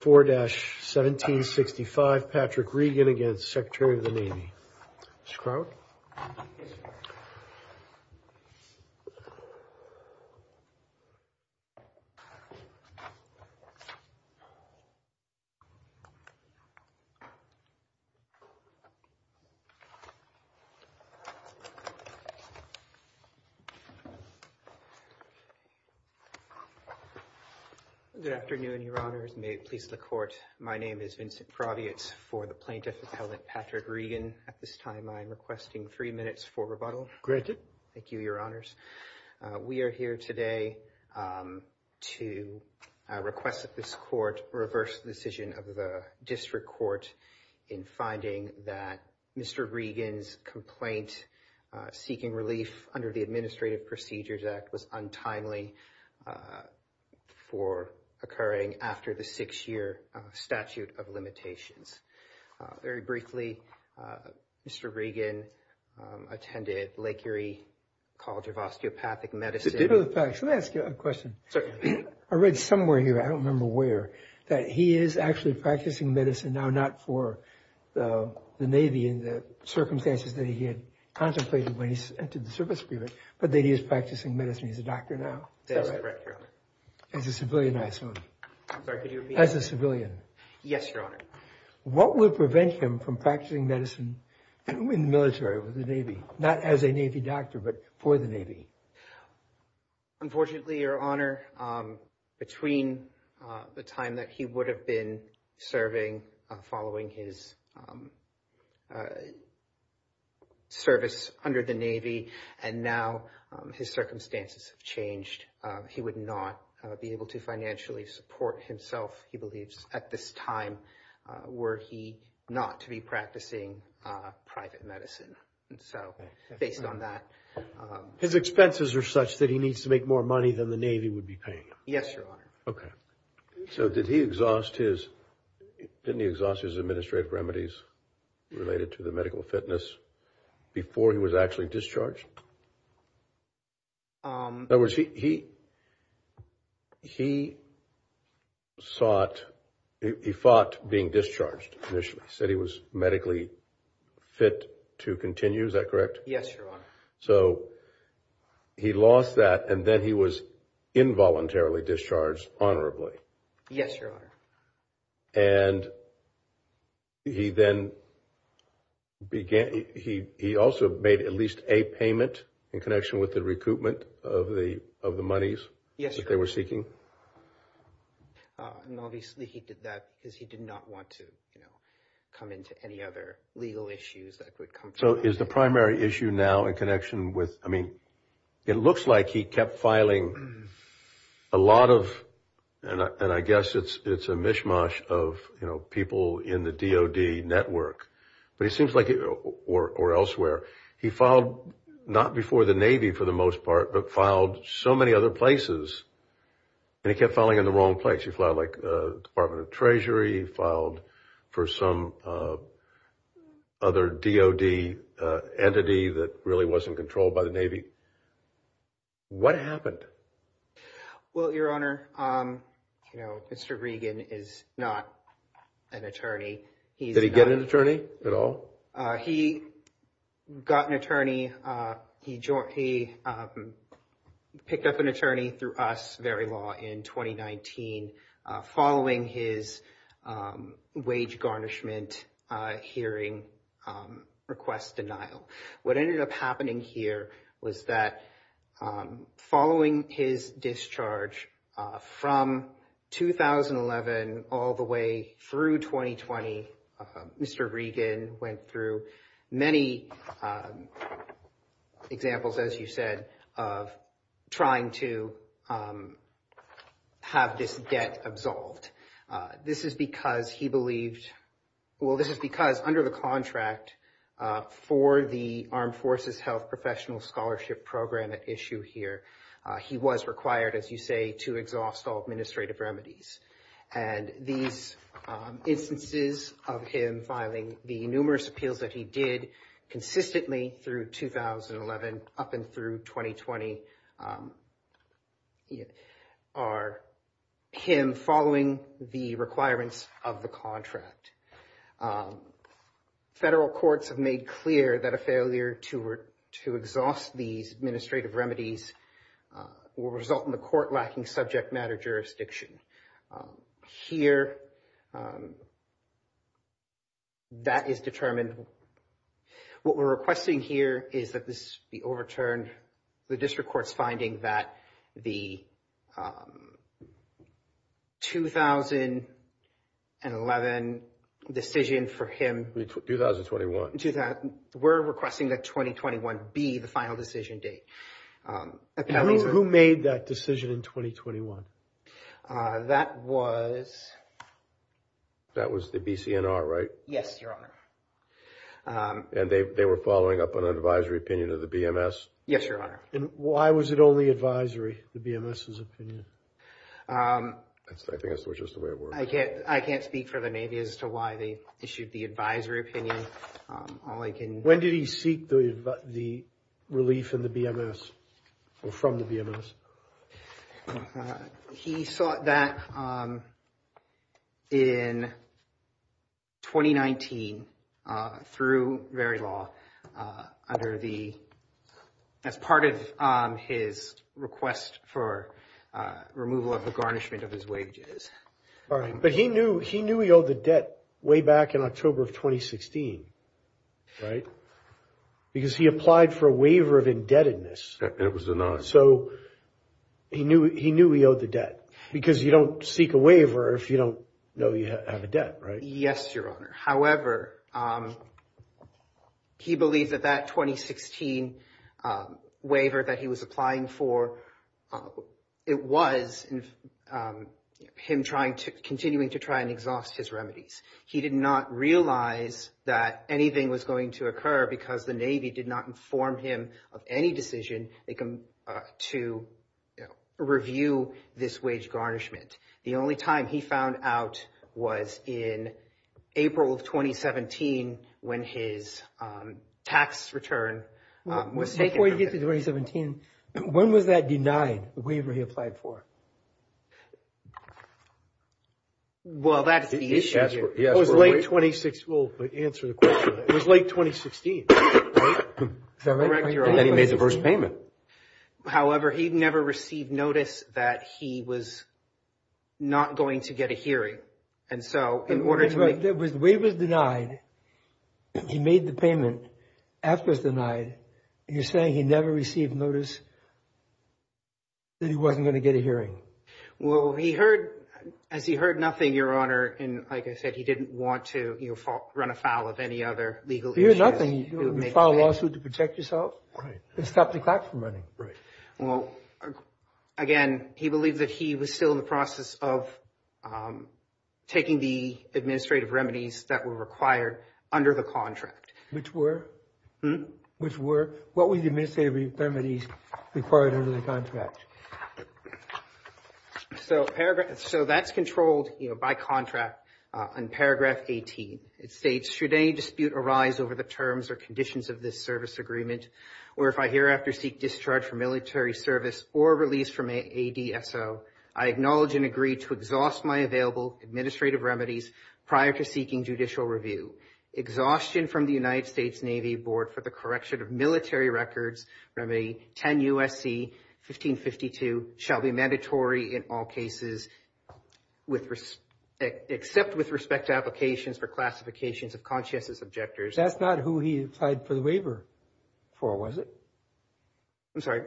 4-1765 Patrick Regan against Secretary of the Navy, Mr. Crout. Good afternoon, Your Honors, may it please the Court. My name is Vincent Proviates for the Plaintiff Appellant Patrick Regan. At this time, I'm requesting three minutes for rebuttal. Granted. Thank you, Your Honors. We are here today to request that this Court reverse the decision of the District Court in finding that Mr. Regan's complaint seeking relief under the Administrative Procedures Act was untimely for occurring after the six-year statute of limitations. Very briefly, Mr. Regan attended Lake Erie College of Osteopathic Medicine. Let me ask you a question. I read somewhere here, I don't remember where, that he is actually practicing medicine now, not for the Navy and the circumstances that he had contemplated when he entered the service period, but that he is practicing medicine as a doctor now, as a civilian, I assume. As a civilian. Yes, Your Honor. What would prevent him from practicing medicine in the military, with the Navy? Not as a Navy doctor, but for the Navy? Unfortunately, Your Honor, between the time that he would have been serving, following his service under the Navy, and now his circumstances have changed, he would not be able to financially support himself, he believes, at this time were he not to be practicing private medicine. And so, based on that... His expenses are such that he needs to make more money than the Navy would be paying him. Yes, Your Honor. Okay. So did he exhaust his administrative remedies related to the medical fitness before he was actually discharged? In other words, he sought, he fought being discharged initially, said he was medically fit to continue, is that correct? Yes, Your Honor. So he lost that, and then he was involuntarily discharged honorably? Yes, Your Honor. And he then began, he also made at least a payment in connection with the recoupment of the monies that they were seeking? Yes, Your Honor. And obviously, he did that because he did not want to, you know, come into any other legal issues that would come from... So is the primary issue now in connection with, I mean, it looks like he kept filing a lot of, and I guess it's a mishmash of, you know, people in the DOD network. But it seems like, or elsewhere, he filed not before the Navy for the most part, but filed so many other places, and he kept filing in the wrong place. He filed like the Department of Treasury, he filed for some other DOD entity that really wasn't controlled by the Navy. What happened? Well, Your Honor, you know, Mr. Regan is not an attorney. Did he get an attorney at all? He got an attorney. He picked up an attorney through us, VeriLaw, in 2019, following his wage garnishment hearing request denial. What ended up happening here was that following his discharge from 2011 all the way through 2020, Mr. Regan went through many examples, as you said, of trying to have this debt absolved. This is because he believed, well, this is because under the contract for the Armed Forces Health Professional Scholarship Program at issue here, he was required, as you say, to exhaust all administrative remedies. And these instances of him filing the numerous appeals that he did consistently through 2011 up and through 2020 are him following the requirements of the contract. Federal courts have made clear that a failure to exhaust these administrative remedies will result in the court lacking subject matter jurisdiction. Here, that is determined. What we're requesting here is that this be overturned. The district court's finding that the 2011 decision for him. 2021. We're requesting that 2021 be the final decision date. Who made that decision in 2021? That was. That was the BCNR, right? Yes, Your Honor. And they were following up on an advisory opinion of the BMS? Yes, Your Honor. And why was it only advisory, the BMS's opinion? I think that's just the way it works. I can't speak for the Navy as to why they issued the advisory opinion. When did he seek the relief in the BMS or from the BMS? He sought that in 2019 through very law under the, as part of his request for removal of the garnishment of his wages. All right. But he knew he owed the debt way back in October of 2016, right? Because he applied for a waiver of indebtedness. It was denied. So he knew he owed the debt because you don't seek a waiver if you don't know you have a debt, right? Yes, Your Honor. However, he believes that that 2016 waiver that he was applying for, it was him trying to, continuing to try and exhaust his remedies. He did not realize that anything was going to occur because the Navy did not inform him of any decision to review this wage garnishment. The only time he found out was in April of 2017 when his tax return was taken. Before you get to 2017, when was that denied, the waiver he applied for? Well, that's the issue here. It was late 2016. We'll answer the question. It was late 2016. Is that right? Correct, Your Honor. And then he made the first payment. However, he never received notice that he was not going to get a hearing. And so in order to make... The waiver was denied. He made the payment. After it was denied, you're saying he never received notice that he wasn't going to get a hearing. Well, he heard, as he heard nothing, Your Honor, and like I said, he didn't want to run afoul of any other legal issues. You file a lawsuit to protect yourself? Right. And stop the clock from running. Right. Well, again, he believes that he was still in the process of taking the administrative remedies that were required under the contract. Which were? Hmm? Which were? What were the administrative remedies required under the contract? So that's controlled by contract in paragraph 18. It states, should any dispute arise over the terms or conditions of this service agreement, or if I hereafter seek discharge from military service or release from ADSO, I acknowledge and agree to exhaust my available administrative remedies prior to seeking judicial review. Exhaustion from the United States Navy Board for the correction of military records, remedy 10 U.S.C. 1552, shall be mandatory in all cases except with respect to applications for classifications of conscientious objectors. That's not who he applied for the waiver for, was it? I'm sorry?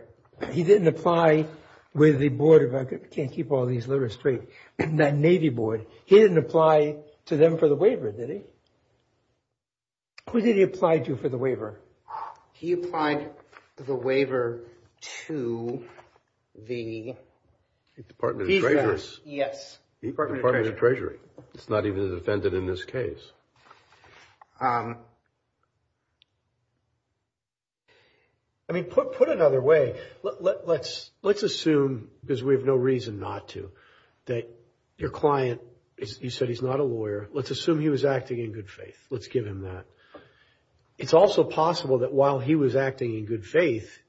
He didn't apply with the Board of, I can't keep all these letters straight, the Navy Board. He didn't apply to them for the waiver, did he? Who did he apply to for the waiver? He applied for the waiver to the. Department of Treasury. Yes. Department of Treasury. It's not even a defendant in this case. I mean, put another way. Let's assume, because we have no reason not to, that your client, you said he's not a lawyer. Let's assume he was acting in good faith. Let's give him that. It's also possible that while he was acting in good faith,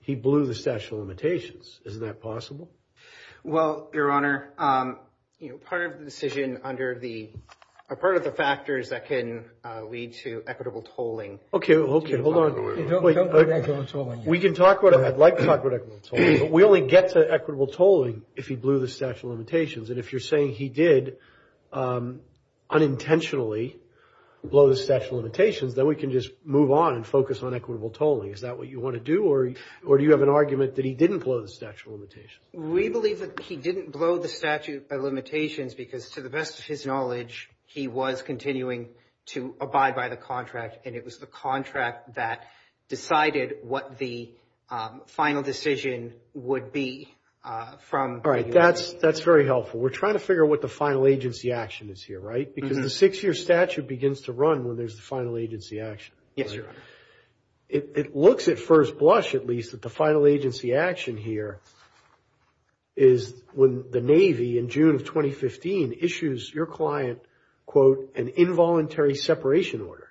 he blew the statute of limitations. Isn't that possible? Well, Your Honor, part of the decision under the, part of the factors that can lead to equitable tolling. Okay, hold on. Don't go back to equitable tolling. We can talk about it. I'd like to talk about equitable tolling, but we only get to equitable tolling if he blew the statute of limitations. And if you're saying he did unintentionally blow the statute of limitations, then we can just move on and focus on equitable tolling. Is that what you want to do, or do you have an argument that he didn't blow the statute of limitations? We believe that he didn't blow the statute of limitations because, to the best of his knowledge, he was continuing to abide by the contract, and it was the contract that decided what the final decision would be from. All right, that's very helpful. We're trying to figure out what the final agency action is here, right? Because the six-year statute begins to run when there's the final agency action. Yes, Your Honor. It looks at first blush, at least, that the final agency action here is when the Navy, in June of 2015, issues your client, quote, an involuntary separation order.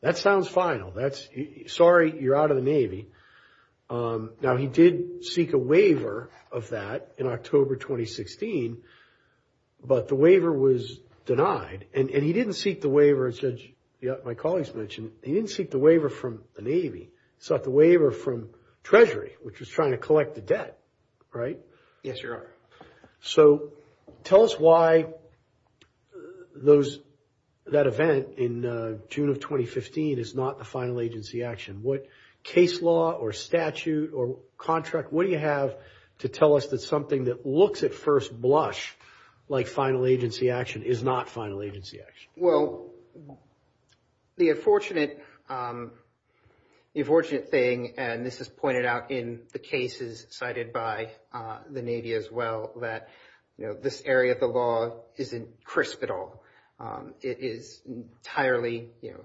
That sounds final. That's, sorry, you're out of the Navy. Now, he did seek a waiver of that in October 2016, but the waiver was denied. And he didn't seek the waiver, as my colleagues mentioned, he didn't seek the waiver from the Navy. He sought the waiver from Treasury, which was trying to collect the debt, right? Yes, Your Honor. So tell us why that event in June of 2015 is not the final agency action. What case law or statute or contract, what do you have to tell us that something that looks at first blush, like final agency action, is not final agency action? Well, the unfortunate thing, and this is pointed out in the cases cited by the Navy as well, that this area of the law isn't crisp at all. It is entirely, you know,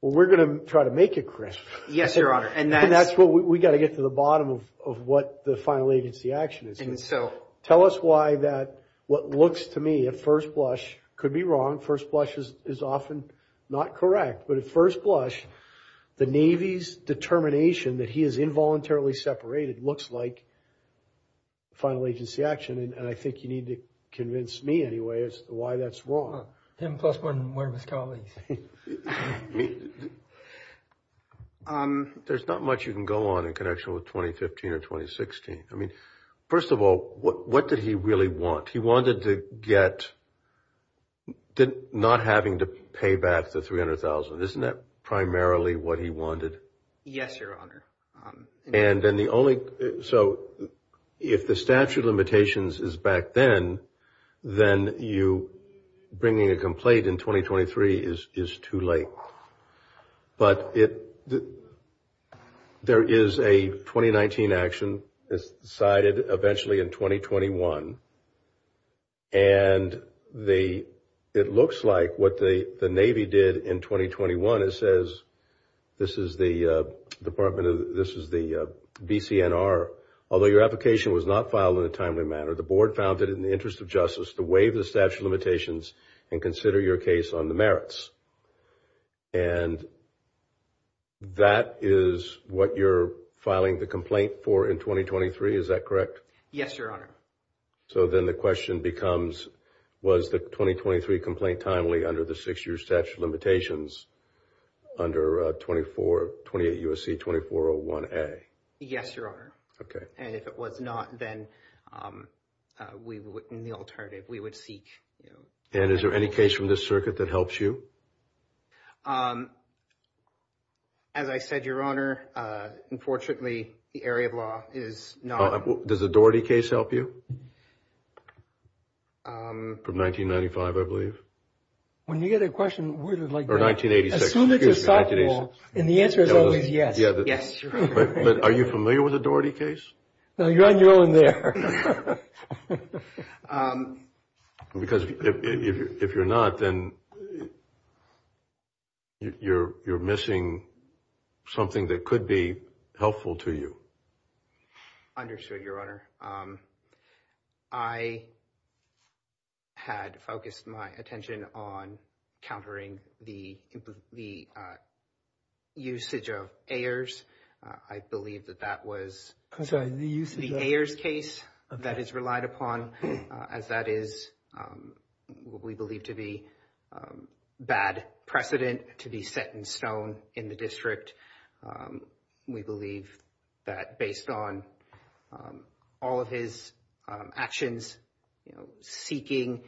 Well, we're going to try to make it crisp. Yes, Your Honor. And that's what we got to get to the bottom of what the final agency action is. And so tell us why that what looks to me at first blush could be wrong. First blush is often not correct. But at first blush, the Navy's determination that he is involuntarily separated looks like final agency action. And I think you need to convince me anyway as to why that's wrong. Him plus one more of his colleagues. There's not much you can go on in connection with 2015 or 2016. I mean, first of all, what did he really want? He wanted to get not having to pay back the $300,000. Isn't that primarily what he wanted? Yes, Your Honor. And then the only so if the statute of limitations is back then, then you bringing a complaint in 2023 is too late. But it there is a 2019 action is decided eventually in 2021. And the it looks like what the Navy did in 2021. It says this is the department. This is the B.C.N.R. Although your application was not filed in a timely manner. The board found that in the interest of justice, the way the statute of limitations and consider your case on the merits. And. That is what you're filing the complaint for in 2023. Is that correct? Yes, Your Honor. So then the question becomes, was the 2023 complaint timely under the six year statute of limitations? Under 24, 28 U.S.C. 2401A. Yes, Your Honor. OK. And if it was not, then we wouldn't be alternative. We would seek. And is there any case from this circuit that helps you? As I said, Your Honor, unfortunately, the area of law is not. Does a Daugherty case help you? From 1995, I believe. When you get a question like that. Or 1986. And the answer is always yes. Yes. But are you familiar with a Daugherty case? No, you're on your own there. Because if you're not, then you're missing something that could be helpful to you. Understood, Your Honor. I had focused my attention on countering the usage of Ayers. I believe that that was the Ayers case that is relied upon, as that is what we believe to be bad precedent to be set in stone in the district. We believe that based on all of his actions, seeking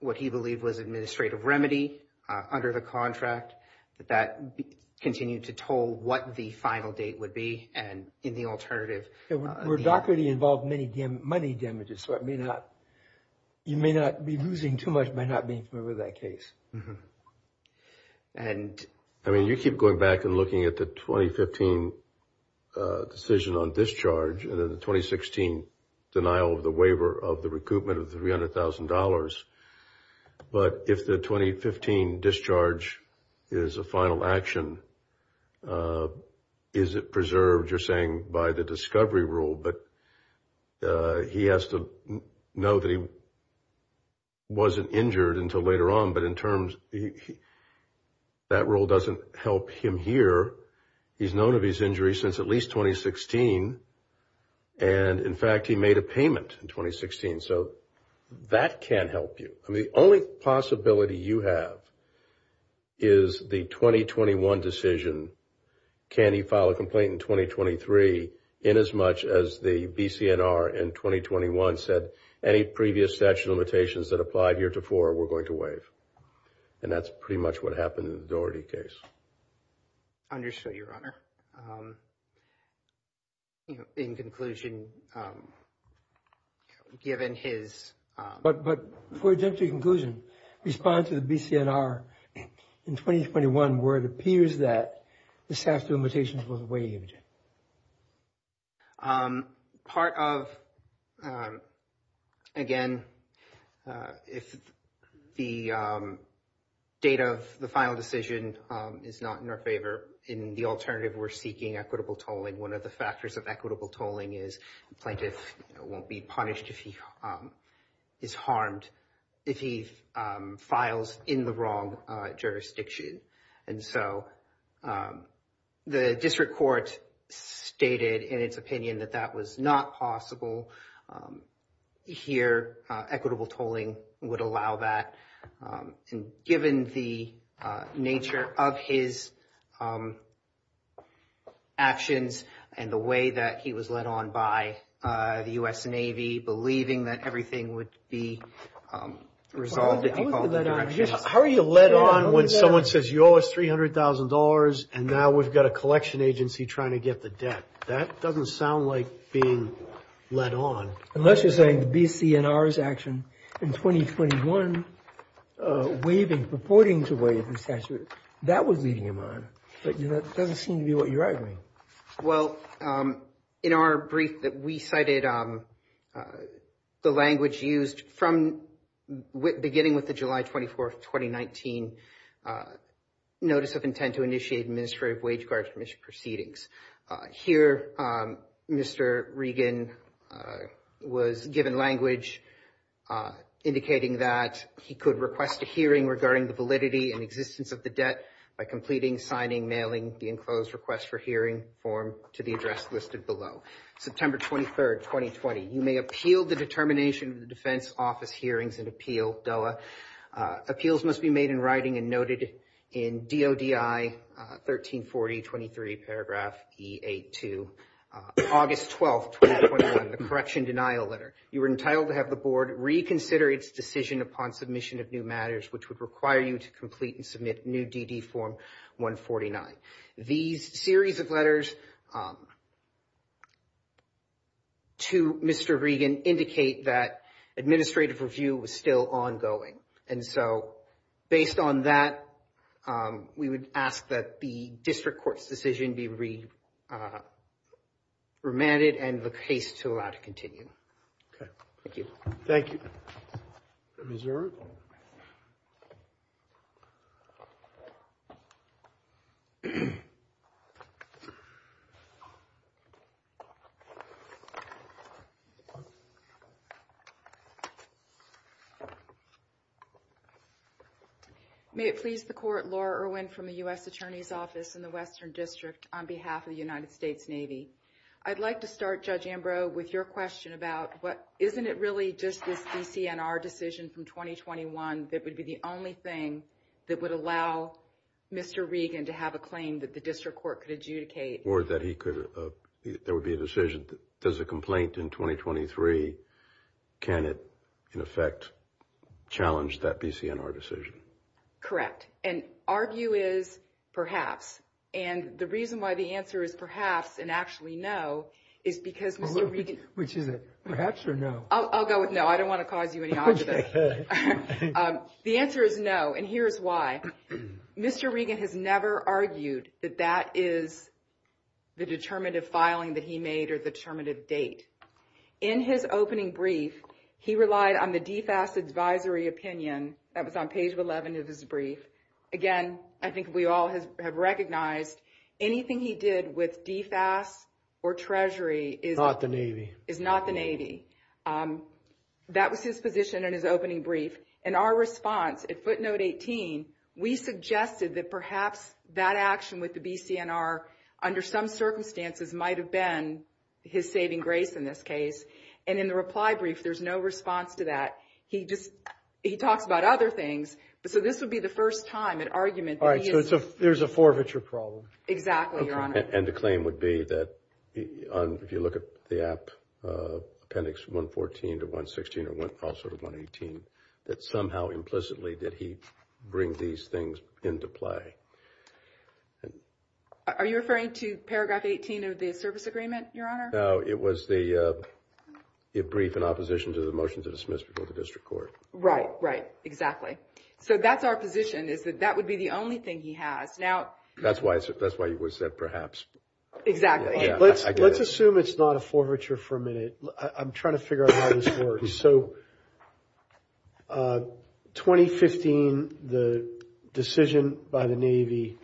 what he believed was administrative remedy under the contract, that that continued to toll what the final date would be. And in the alternative. Where Daugherty involved many damages, so you may not be losing too much by not being familiar with that case. I mean, you keep going back and looking at the 2015 decision on discharge and the 2016 denial of the waiver of the recoupment of $300,000. But if the 2015 discharge is a final action, is it preserved, you're saying, by the discovery rule? But he has to know that he wasn't injured until later on. But in terms, that rule doesn't help him here. He's known of his injury since at least 2016. And, in fact, he made a payment in 2016. So that can help you. I mean, the only possibility you have is the 2021 decision. Can he file a complaint in 2023 in as much as the BCNR in 2021 said any previous statute of limitations that applied here to four were going to waive? And that's pretty much what happened in the Daugherty case. Understood, Your Honor. In conclusion, given his. But for a gentry conclusion, respond to the BCNR in 2021 where it appears that the statute of limitations was waived. Part of, again, if the date of the final decision is not in our favor in the alternative, we're seeking equitable tolling. And one of the factors of equitable tolling is plaintiff won't be punished if he is harmed, if he files in the wrong jurisdiction. And so the district court stated in its opinion that that was not possible here. Equitable tolling would allow that. Given the nature of his actions and the way that he was led on by the U.S. Navy, believing that everything would be resolved. How are you led on when someone says you owe us three hundred thousand dollars and now we've got a collection agency trying to get the debt? That doesn't sound like being led on. Unless you're saying the BCNR's action in 2021 waiving, purporting to waive the statute, that was leading him on. But that doesn't seem to be what you're arguing. Well, in our brief that we cited, the language used from beginning with the July 24th, 2019 notice of intent to initiate administrative wage guard commission proceedings. Here, Mr. Regan was given language indicating that he could request a hearing regarding the validity and existence of the debt by completing, signing, mailing the enclosed request for hearing form to the address listed below. September 23rd, 2020. You may appeal the determination of the defense office hearings and appeal DOA. Appeals must be made in writing and noted in DODI 1340. Twenty three paragraph eight to August 12th, the correction denial letter. You were entitled to have the board reconsider its decision upon submission of new matters, which would require you to complete and submit new DD form 149. These series of letters to Mr. Regan indicate that administrative review was still ongoing. And so based on that, we would ask that the district court's decision be remanded and the case to allow to continue. Thank you. Thank you. May it please the court. Laura Irwin from the U.S. Attorney's Office in the Western District on behalf of the United States Navy. I'd like to start, Judge Ambrose, with your question about what. Isn't it really just this DCNR decision from 2021 that would be the only thing that would allow Mr. Regan to have a claim that the district court could adjudicate or that he could. There would be a decision. Does a complaint in 2023. Can it, in effect, challenge that DCNR decision? Correct. And our view is perhaps. And the reason why the answer is perhaps and actually no is because. Which is perhaps or no. I'll go with no. I don't want to cause you any. The answer is no. And here's why. Mr. Regan has never argued that that is the determinative filing that he made or the term of date in his opening brief. He relied on the DFAS advisory opinion. That was on page 11 of his brief. Again, I think we all have recognized anything he did with DFAS or Treasury is not the Navy is not the Navy. That was his position in his opening brief and our response at footnote 18. We suggested that perhaps that action with the BCNR under some circumstances might have been his saving grace in this case. And in the reply brief, there's no response to that. He just he talks about other things. So this would be the first time an argument. All right. So there's a forfeiture problem. Exactly. And the claim would be that if you look at the app, appendix 114 to 116 or 118, that somehow implicitly that he brings these things into play. Are you referring to paragraph 18 of the service agreement? Your honor? It was the brief in opposition to the motion to dismiss before the district court. Right. Right. Exactly. So that's our position is that that would be the only thing he has now. That's why that's why he was said, perhaps. Exactly. Let's assume it's not a forfeiture for a minute. I'm trying to figure out how this works. So 2015, the decision by the Navy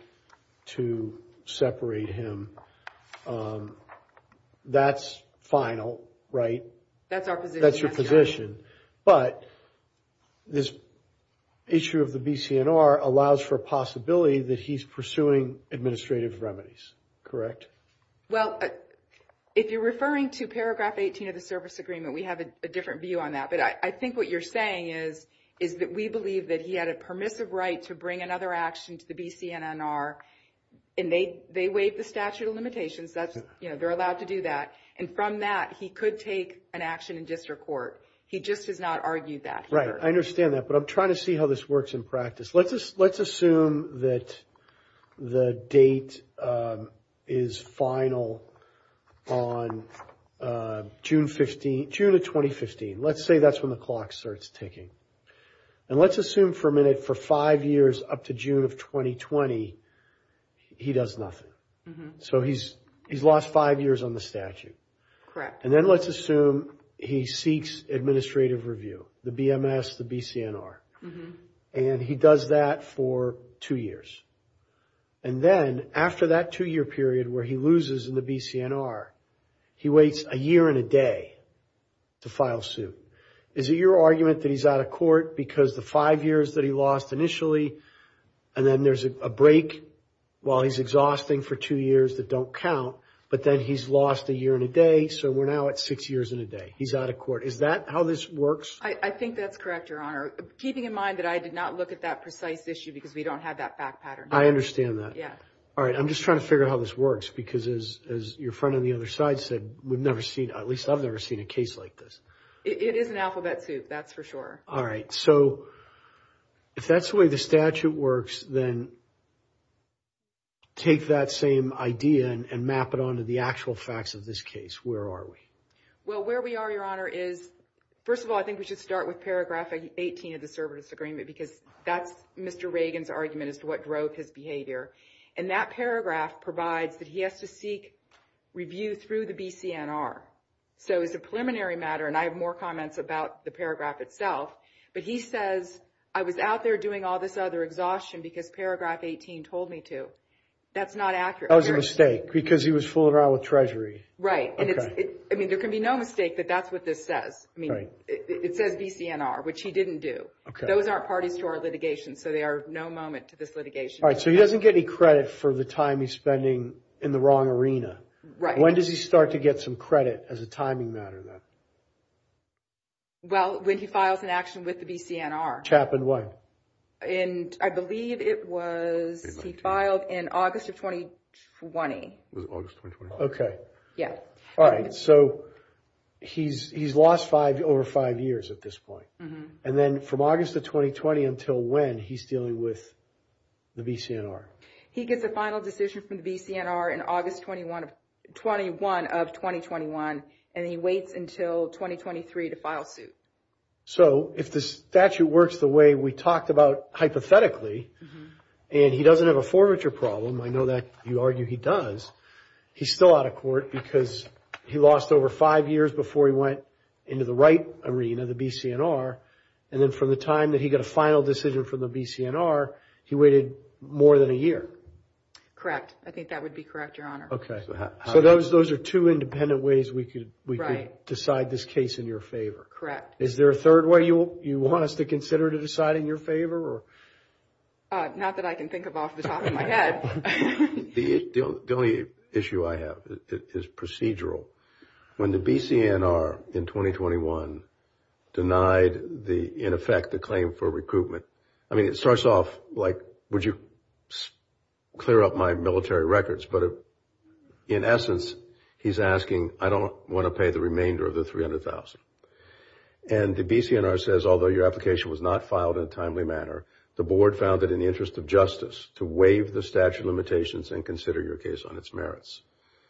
to separate him. That's final, right? That's our position. That's your position. But this issue of the BCNR allows for a possibility that he's pursuing administrative remedies. Correct? Well, if you're referring to paragraph 18 of the service agreement, we have a different view on that. But I think what you're saying is, is that we believe that he had a permissive right to bring another action to the BCNR. And they they waive the statute of limitations that they're allowed to do that. And from that, he could take an action in district court. He just has not argued that. Right. I understand that. But I'm trying to see how this works in practice. Let's just let's assume that the date is final on June 15, June of 2015. Let's say that's when the clock starts ticking. And let's assume for a minute for five years up to June of 2020, he does nothing. So he's he's lost five years on the statute. Correct. And then let's assume he seeks administrative review, the BMS, the BCNR. And he does that for two years. And then after that two year period where he loses in the BCNR, he waits a year and a day to file suit. Is it your argument that he's out of court because the five years that he lost initially and then there's a break while he's exhausting for two years that don't count? But then he's lost a year and a day. So we're now at six years and a day. He's out of court. Is that how this works? I think that's correct, Your Honor. Keeping in mind that I did not look at that precise issue because we don't have that fact pattern. I understand that. Yeah. All right. I'm just trying to figure out how this works. Because as your friend on the other side said, we've never seen at least I've never seen a case like this. It is an alphabet soup. That's for sure. All right. So if that's the way the statute works, then take that same idea and map it onto the actual facts of this case. Where are we? Well, where we are, Your Honor, is first of all, I think we should start with paragraph 18 of the service agreement, because that's Mr. Reagan's argument as to what drove his behavior. And that paragraph provides that he has to seek review through the BCNR. So it's a preliminary matter. And I have more comments about the paragraph itself. But he says, I was out there doing all this other exhaustion because paragraph 18 told me to. That's not accurate. That was a mistake because he was fooling around with Treasury. Right. I mean, there can be no mistake that that's what this says. I mean, it says BCNR, which he didn't do. Those aren't parties to our litigation. So they are no moment to this litigation. All right. So he doesn't get any credit for the time he's spending in the wrong arena. Right. When does he start to get some credit as a timing matter then? Well, when he files an action with the BCNR. Which happened when? I believe it was, he filed in August of 2020. Was it August of 2020? Okay. Yeah. All right. So he's lost over five years at this point. And then from August of 2020 until when he's dealing with the BCNR? He gets a final decision from the BCNR in August 21 of 2021. And he waits until 2023 to file suit. So if the statute works the way we talked about hypothetically, and he doesn't have a forfeiture problem, I know that you argue he does. He's still out of court because he lost over five years before he went into the right arena, the BCNR. And then from the time that he got a final decision from the BCNR, he waited more than a year. Correct. I think that would be correct, Your Honor. Okay. So those are two independent ways we could decide this case in your favor. Correct. Is there a third way you want us to consider to decide in your favor? Not that I can think of off the top of my head. The only issue I have is procedural. When the BCNR in 2021 denied the, in effect, the claim for recruitment. I mean, it starts off like, would you clear up my military records? But in essence, he's asking, I don't want to pay the remainder of the $300,000. And the BCNR says, although your application was not filed in a timely manner, the board found it in the interest of justice to waive the statute of limitations and consider your case on its merits.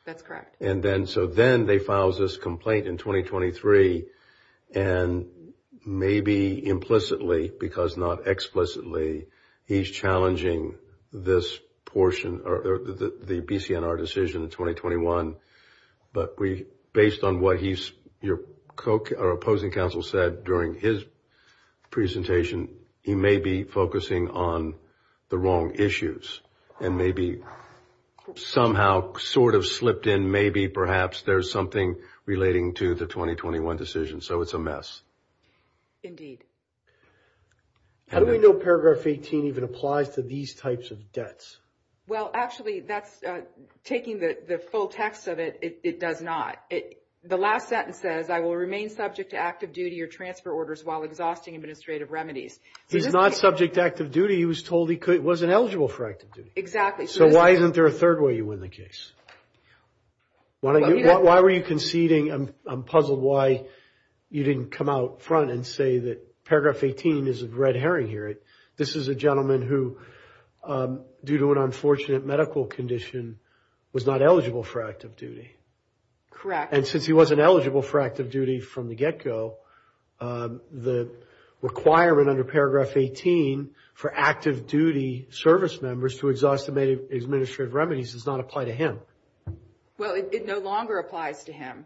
That's correct. And then, so then they filed this complaint in 2023. And maybe implicitly, because not explicitly, he's challenging this portion, or the BCNR decision in 2021. But based on what your opposing counsel said during his presentation, he may be focusing on the wrong issues. And maybe somehow sort of slipped in, maybe perhaps there's something relating to the 2021 decision. So it's a mess. How do we know paragraph 18 even applies to these types of debts? Well, actually, that's, taking the full text of it, it does not. The last sentence says, I will remain subject to active duty or transfer orders while exhausting administrative remedies. He's not subject to active duty. He was told he wasn't eligible for active duty. Exactly. So why isn't there a third way you win the case? Why were you conceding? I'm puzzled why you didn't come out front and say that paragraph 18 is a red herring here. This is a gentleman who, due to an unfortunate medical condition, was not eligible for active duty. Correct. And since he wasn't eligible for active duty from the get-go, the requirement under paragraph 18 for active duty service members to exhaust administrative remedies does not apply to him. Well, it no longer applies to him.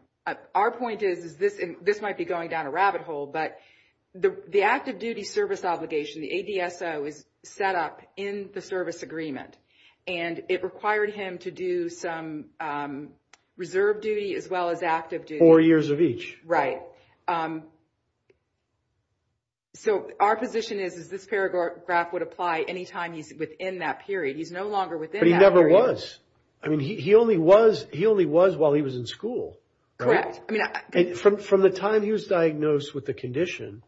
Our point is, this might be going down a rabbit hole, but the active duty service obligation, the ADSO, is set up in the service agreement. And it required him to do some reserve duty as well as active duty. Four years of each. Right. So our position is, is this paragraph would apply any time he's within that period. He's no longer within that period. But he never was. I mean, he only was while he was in school. From the time he was diagnosed with the condition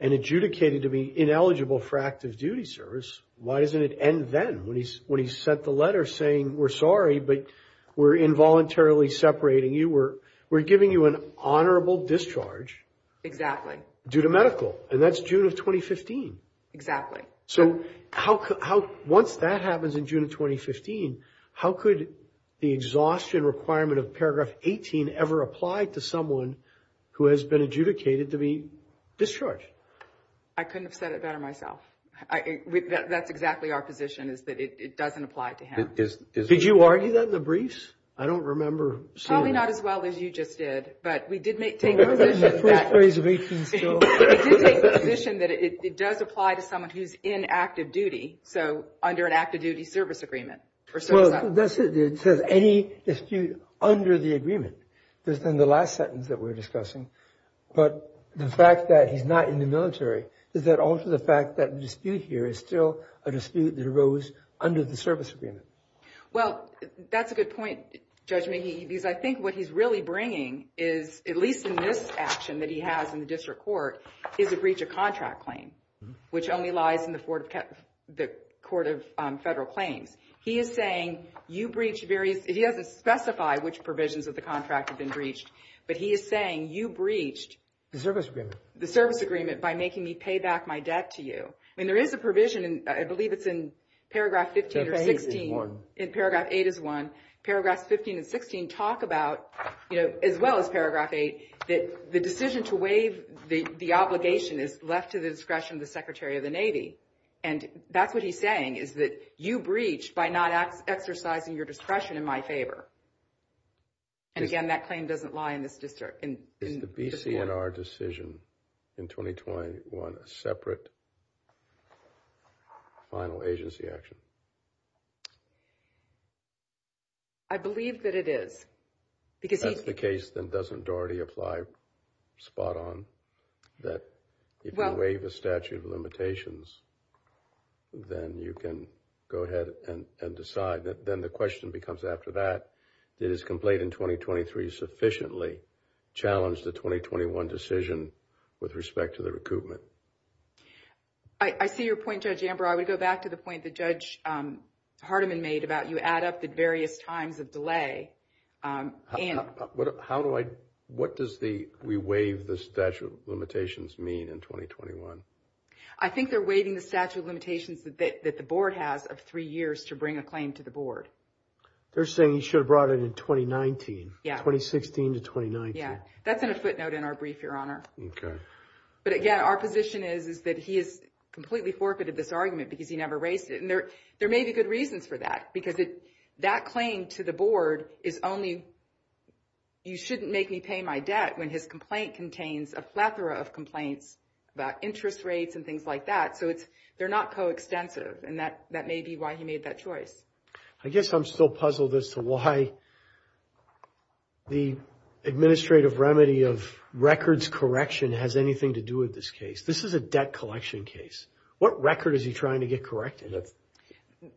and adjudicated to be ineligible for active duty service, why doesn't it end then when he sent the letter saying, we're sorry, but we're involuntarily separating you. We're giving you an honorable discharge. Due to medical. And that's June of 2015. Exactly. So once that happens in June of 2015, how could the exhaustion requirement of paragraph 18 ever apply to someone who has been adjudicated to be discharged? I couldn't have said it better myself. That's exactly our position, is that it doesn't apply to him. Did you argue that in the briefs? I don't remember seeing that. Probably not as well as you just did, but we did take the position that it does apply to someone who's 18. In active duty. So under an active duty service agreement. It says any dispute under the agreement. That's in the last sentence that we're discussing. But the fact that he's not in the military, is that also the fact that the dispute here is still a dispute that arose under the service agreement? Well, that's a good point, Judge McGee. Because I think what he's really bringing is, at least in this action that he has in the district court, is a breach of contract claim. Which only lies in the Court of Federal Claims. He is saying you breached various, he doesn't specify which provisions of the contract have been breached. But he is saying you breached. The service agreement. The service agreement by making me pay back my debt to you. And there is a provision, I believe it's in paragraph 15 or 16. One. In paragraph 8 is one. Paragraphs 15 and 16 talk about, as well as paragraph 8, that the decision to waive the obligation is left to the discretion of the Secretary of the Navy. And that's what he's saying, is that you breached by not exercising your discretion in my favor. And again, that claim doesn't lie in this district. Is the BCNR decision in 2021 a separate final agency action? I believe that it is. That's the case that doesn't already apply spot on. That if you waive a statute of limitations, then you can go ahead and decide. Then the question becomes after that, did his complaint in 2023 sufficiently challenge the 2021 decision with respect to the recoupment? I see your point, Judge Amber. I would go back to the point that Judge Hardiman made about you add up the various times of delay. What does the we waive the statute of limitations mean in 2021? I think they're waiving the statute of limitations that the board has of three years to bring a claim to the board. They're saying he should have brought it in 2019. Yeah. 2016 to 2019. Yeah. That's in a footnote in our brief, Your Honor. OK. But again, our position is, is that he has completely forfeited this argument because he never raised it. And there may be good reasons for that. Because that claim to the board is only you shouldn't make me pay my debt when his complaint contains a plethora of complaints about interest rates and things like that. So they're not coextensive. And that may be why he made that choice. I guess I'm still puzzled as to why the administrative remedy of records correction has anything to do with this case. This is a debt collection case. What record is he trying to get corrected?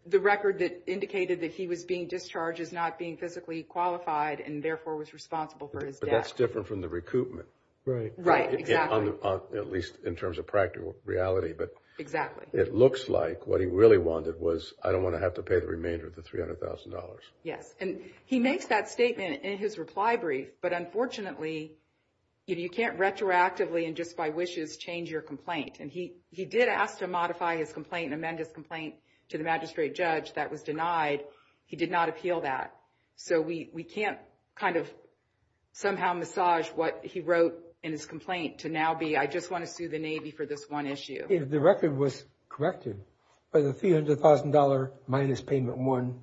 The record that indicated that he was being discharged is not being physically qualified and therefore was responsible for his debt. But that's different from the recoupment. Right. Right. Exactly. At least in terms of practical reality. Exactly. It looks like what he really wanted was, I don't want to have to pay the remainder of the $300,000. Yes. And he makes that statement in his reply brief. But unfortunately, you can't retroactively and just by wishes change your complaint. And he did ask to modify his complaint and amend his complaint to the magistrate judge. That was denied. He did not appeal that. So we can't kind of somehow massage what he wrote in his complaint to now be, I just want to sue the Navy for this one issue. If the record was corrected by the $300,000 minus payment one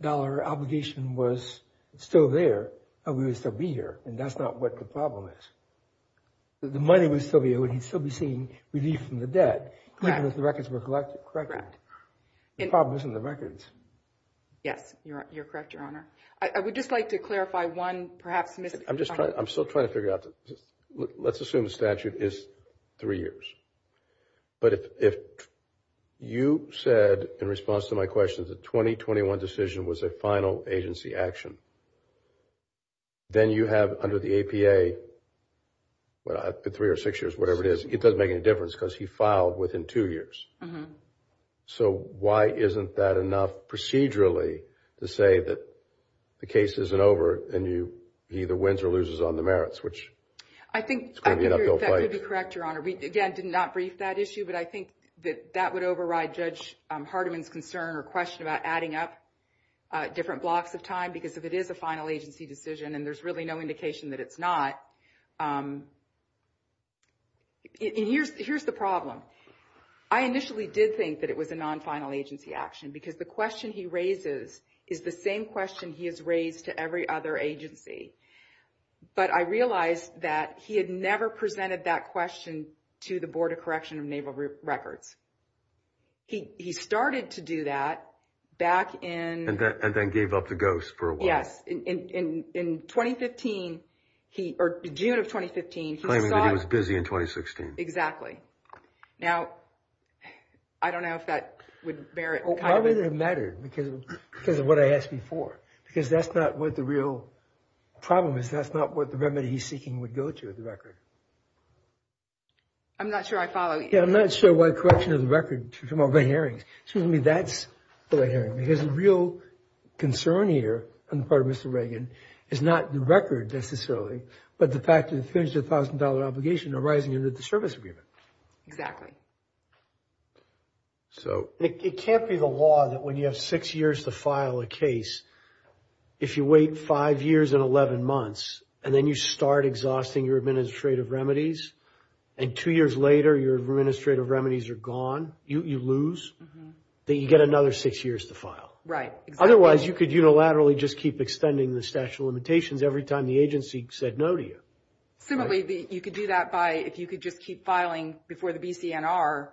dollar obligation was still there, we would still be here. And that's not what the problem is. The money would still be here. We'd still be seeing relief from the debt. Correct. Even if the records were corrected. Correct. The problem isn't the records. Yes. You're correct, Your Honor. I would just like to clarify one perhaps missed comment. I'm still trying to figure out. Let's assume the statute is three years. But if you said, in response to my question, the 2021 decision was a final agency action, then you have under the APA, three or six years, whatever it is, it doesn't make any difference because he filed within two years. So why isn't that enough procedurally to say that the case isn't over and he either wins or loses on the merits? I think that would be correct, Your Honor. We, again, did not brief that issue. But I think that that would override Judge Hardiman's concern or question about adding up different blocks of time. Because if it is a final agency decision and there's really no indication that it's not, here's the problem. I initially did think that it was a non-final agency action because the question he raises is the same question he has raised to every other agency. But I realized that he had never presented that question to the Board of Correction of Naval Records. He started to do that back in... And then gave up the ghost for a while. Yes. In 2015, or June of 2015, he saw... Claiming that he was busy in 2016. Exactly. Now, I don't know if that would bear it. I don't think it mattered because of what I asked before. Because that's not what the real problem is. That's not what the remedy he's seeking would go to with the record. I'm not sure I follow you. Yeah, I'm not sure why the correction of the record from all the hearings. Excuse me, that's the right hearing. Because the real concern here on the part of Mr. Reagan is not the record necessarily, but the fact that he finished a $1,000 obligation arising under the service agreement. It can't be the law that when you have six years to file a case, if you wait five years and 11 months, and then you start exhausting your administrative remedies, and two years later your administrative remedies are gone, you lose, then you get another six years to file. Right, exactly. Otherwise, you could unilaterally just keep extending the statute of limitations every time the agency said no to you. Similarly, you could do that by, if you could just keep filing before the BCNR,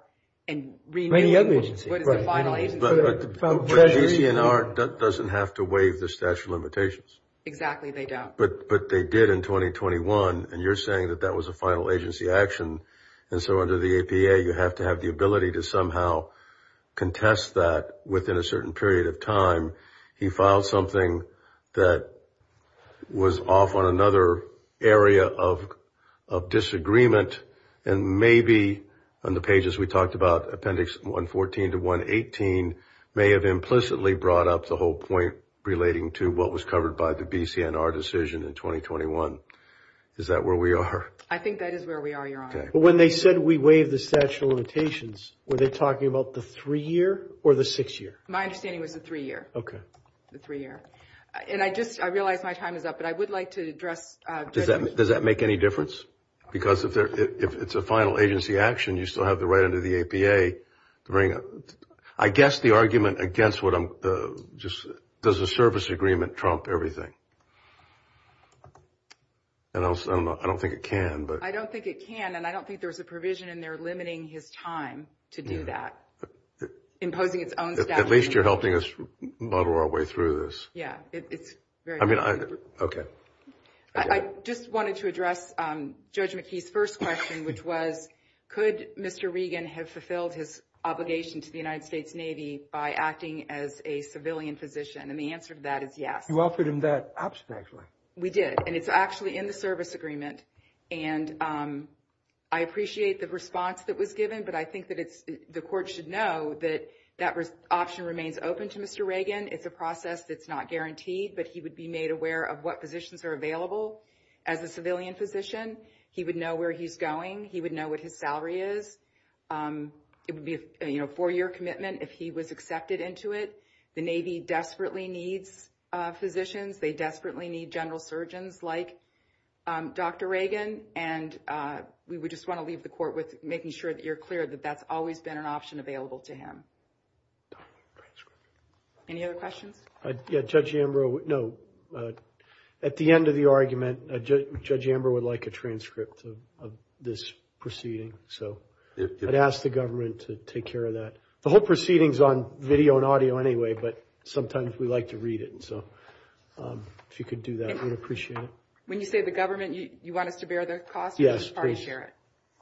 and renew what is the final agency. But the BCNR doesn't have to waive the statute of limitations. Exactly, they don't. But they did in 2021, and you're saying that that was a final agency action, and so under the APA you have to have the ability to somehow contest that within a certain period of time. He filed something that was off on another area of disagreement, and maybe on the pages we talked about, Appendix 114 to 118 may have implicitly brought up the whole point relating to what was covered by the BCNR decision in 2021. Is that where we are? I think that is where we are, Your Honor. When they said we waived the statute of limitations, were they talking about the three-year or the six-year? My understanding was the three-year. The three-year. And I just, I realize my time is up, but I would like to address. Does that make any difference? Because if it's a final agency action, you still have the right under the APA. I guess the argument against what I'm just, does the service agreement trump everything? I don't think it can. I don't think it can, and I don't think there's a provision in there limiting his time to do that, imposing its own statute. At least you're helping us muddle our way through this. Yeah, it's very helpful. Okay. I just wanted to address Judge McKee's first question, which was could Mr. Regan have fulfilled his obligation to the United States Navy by acting as a civilian physician? And the answer to that is yes. You offered him that option, actually. We did, and it's actually in the service agreement, and I appreciate the response that was given, but I think that the court should know that that option remains open to Mr. Regan. It's a process that's not guaranteed, but he would be made aware of what positions are available as a civilian physician. He would know where he's going. He would know what his salary is. It would be a four-year commitment if he was accepted into it. The Navy desperately needs physicians. They desperately need general surgeons like Dr. Regan, and we just want to leave the court with making sure that you're clear that that's always been an option available to him. Any other questions? Yeah, Judge Ambrose, no, at the end of the argument, Judge Ambrose would like a transcript of this proceeding, so I'd ask the government to take care of that. The whole proceeding is on video and audio anyway, but sometimes we like to read it, so if you could do that, we'd appreciate it. When you say the government, you want us to bear the cost? Yes, please.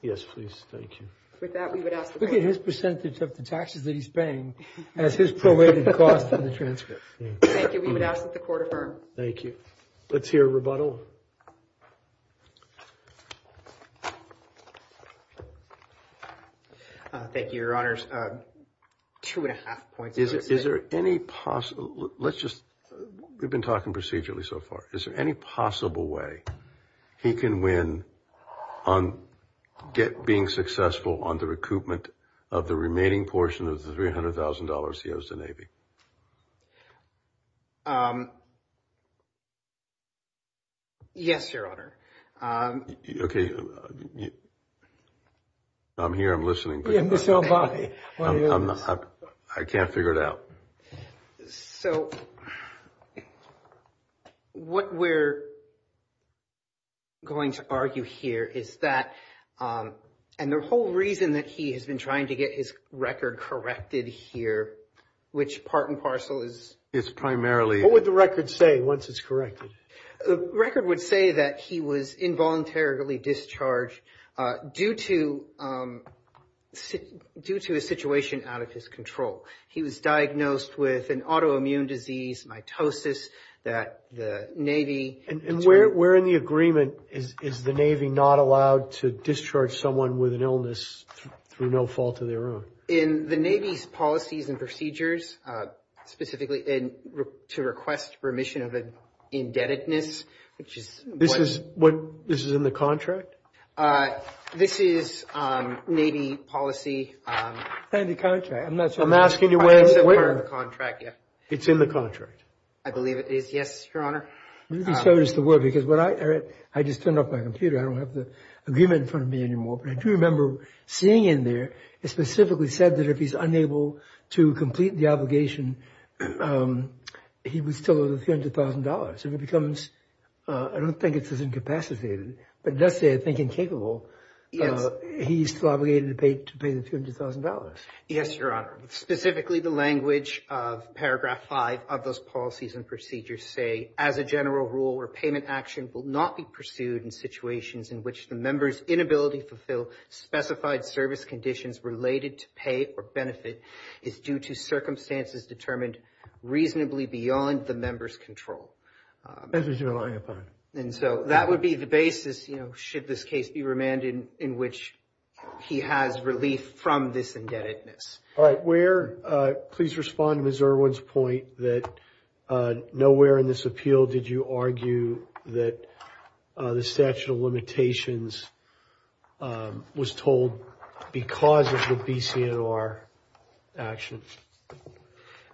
Yes, please. Thank you. With that, we would ask the court. Look at his percentage of the taxes that he's paying as his prorated cost of the transcript. Thank you. We would ask that the court affirm. Thank you. Let's hear a rebuttal. Thank you, Your Honors. Two and a half points. Is there any possible, let's just, we've been talking procedurally so far. Is there any possible way he can win on being successful on the recoupment of the remaining portion of the $300,000 he owes the Navy? Yes, Your Honor. Okay. I'm here, I'm listening, but I can't figure it out. So what we're going to argue here is that, and the whole reason that he has been trying to get his record corrected here, which part and parcel is primarily. What would the record say once it's corrected? The record would say that he was involuntarily discharged due to a situation out of his control. He was diagnosed with an autoimmune disease, mitosis, that the Navy. And where in the agreement is the Navy not allowed to discharge someone with an illness through no fault of their own? In the Navy's policies and procedures, specifically to request remission of indebtedness. This is in the contract? This is Navy policy. I'm asking you where it's in the contract. It's in the contract. I believe it is. Yes, Your Honor. Let me show you the word, because I just turned off my computer. I don't have the agreement in front of me anymore. But I do remember seeing in there, it specifically said that if he's unable to complete the obligation, he would still owe the $300,000. And it becomes, I don't think it's as incapacitated, but it does say I think incapable. He's still obligated to pay the $300,000. Yes, Your Honor. Specifically, the language of paragraph 5 of those policies and procedures say, as a general rule, repayment action will not be pursued in situations in which the member's inability to fulfill specified service conditions related to pay or benefit is due to circumstances determined reasonably beyond the member's control. Members relying upon. And so that would be the basis, you know, should this case be remanded in which he has relief from this indebtedness. All right. Where, please respond to Ms. Irwin's point that nowhere in this appeal did you argue that the statute of limitations was told because of the BCNR action.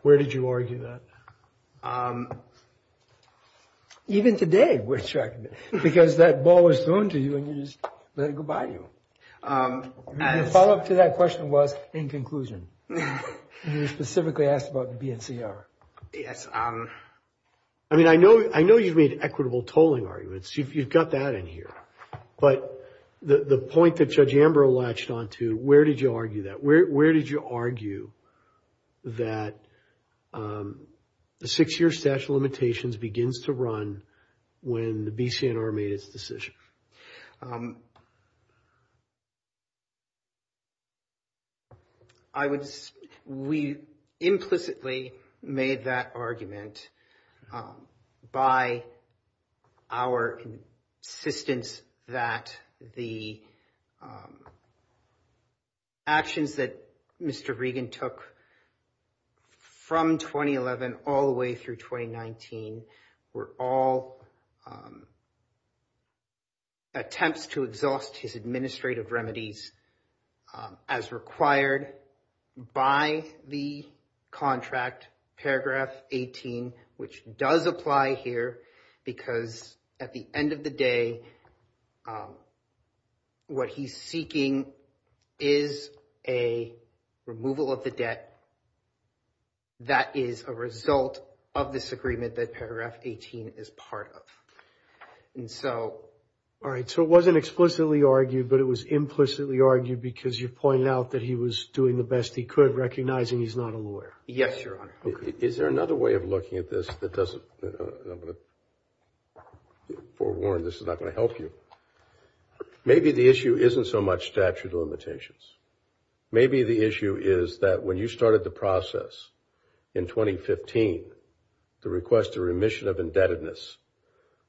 Where did you argue that? Even today, we're tracking it because that ball is thrown to you and you just let it go by you. The follow-up to that question was, in conclusion, you specifically asked about the BNCR. Yes. I mean, I know you've made equitable tolling arguments. You've got that in here. But the point that Judge Amberlatched on to, where did you argue that? That the six-year statute of limitations begins to run when the BCNR made its decision? I would, we implicitly made that argument by our insistence that the actions that Mr. Regan took from 2011 all the way through 2019 were all attempts to exhaust his administrative remedies as required by the contract, paragraph 18, which does apply here because at the end of the day, what he's seeking is a removal of the debt that is a result of this agreement that paragraph 18 is part of. All right, so it wasn't explicitly argued, but it was implicitly argued because you pointed out that he was doing the best he could, recognizing he's not a lawyer. Yes, Your Honor. Is there another way of looking at this that doesn't, I'm going to forewarn, this is not going to help you. Maybe the issue isn't so much statute of limitations. Maybe the issue is that when you started the process in 2015 to request a remission of indebtedness,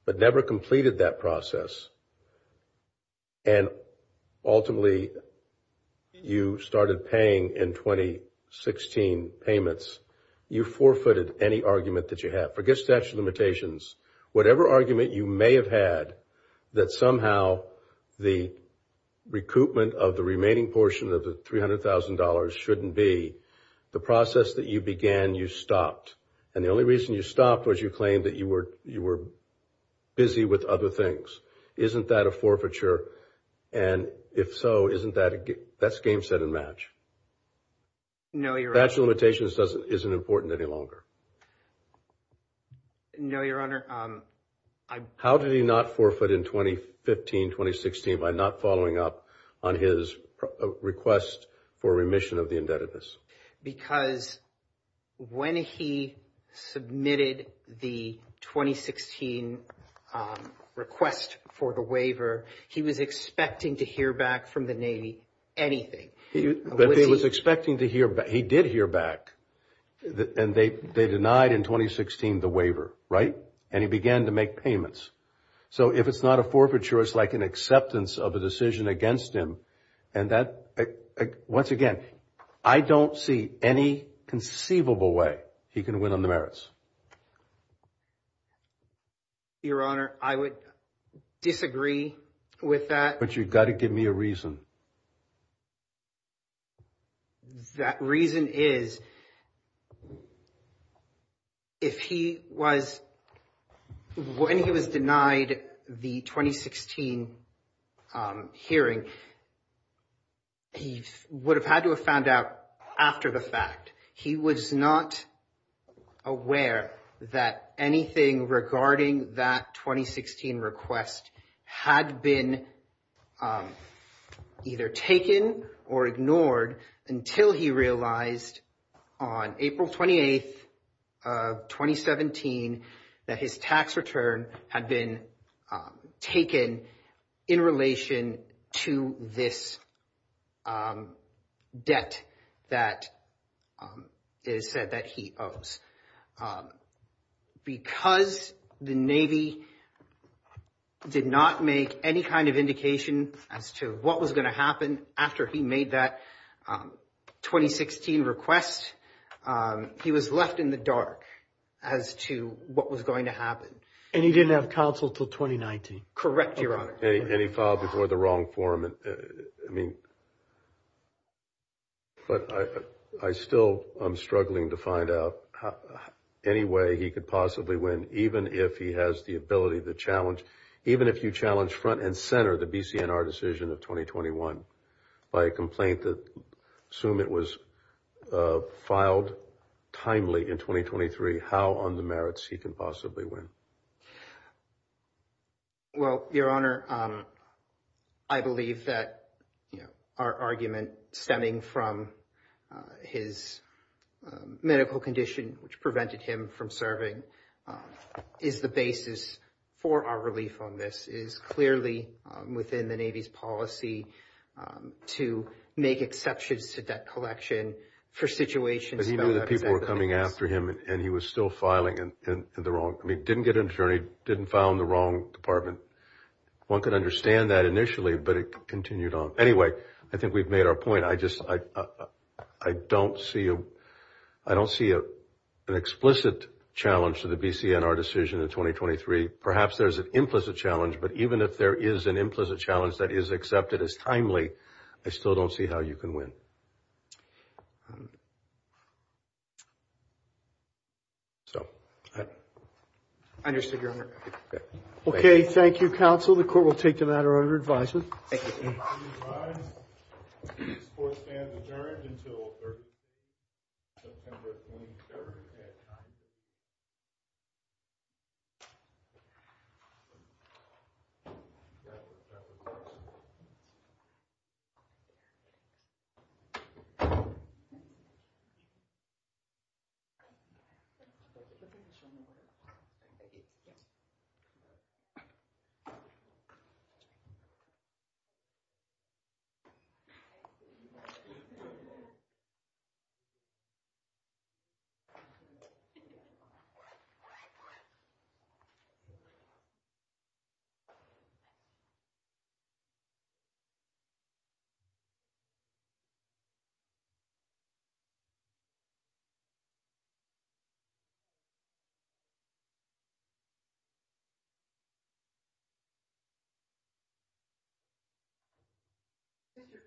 but never completed that process, and ultimately you started paying in 2016 payments, you forfeited any argument that you had. Forget statute of limitations. Whatever argument you may have had that somehow the recoupment of the remaining portion of the $300,000 shouldn't be, the process that you began, you stopped. And the only reason you stopped was you claimed that you were busy with other things. Isn't that a forfeiture? And if so, that's game, set, and match. No, Your Honor. Statute of limitations isn't important any longer. No, Your Honor. How did he not forfeit in 2015, 2016 by not following up on his request for remission of the indebtedness? Because when he submitted the 2016 request for the waiver, he was expecting to hear back from the Navy anything. But he was expecting to hear back. He did hear back, and they denied in 2016 the waiver, right? And he began to make payments. So if it's not a forfeiture, it's like an acceptance of a decision against him. And that, once again, I don't see any conceivable way he can win on the merits. Your Honor, I would disagree with that. But you've got to give me a reason. That reason is, if he was, when he was denied the 2016 hearing, he would have had to have found out after the fact. He was not aware that anything regarding that 2016 request had been either taken or ignored until he realized on April 28th of 2017 that his tax return had been taken in relation to this debt that is said that he owes. Because the Navy did not make any kind of indication as to what was going to happen after he made that 2016 request, he was left in the dark as to what was going to happen. And he didn't have counsel until 2019. Correct, Your Honor. And he filed before the wrong forum. I mean, but I still am struggling to find out any way he could possibly win, even if he has the ability to challenge, even if you challenge front and center the BCNR decision of 2021 by a complaint that, assume it was filed timely in 2023, how on the merits he can possibly win? Well, Your Honor, I believe that our argument stemming from his medical condition, which prevented him from serving, is the basis for our relief on this. It is clearly within the Navy's policy to make exceptions to debt collection for situations. But he knew that people were coming after him and he was still filing in the wrong. I mean, didn't get an attorney, didn't file in the wrong department. One could understand that initially, but it continued on. Anyway, I think we've made our point. I just, I don't see, I don't see an explicit challenge to the BCNR decision in 2023. Perhaps there's an implicit challenge, but even if there is an implicit challenge that is accepted as timely, I still don't see how you can win. So. Understood, Your Honor. Okay, thank you, counsel. The court will take the matter under advisement. Thank you. The court stands adjourned until September 23rd at 9 p.m. Thank you. Thank you. Thank you.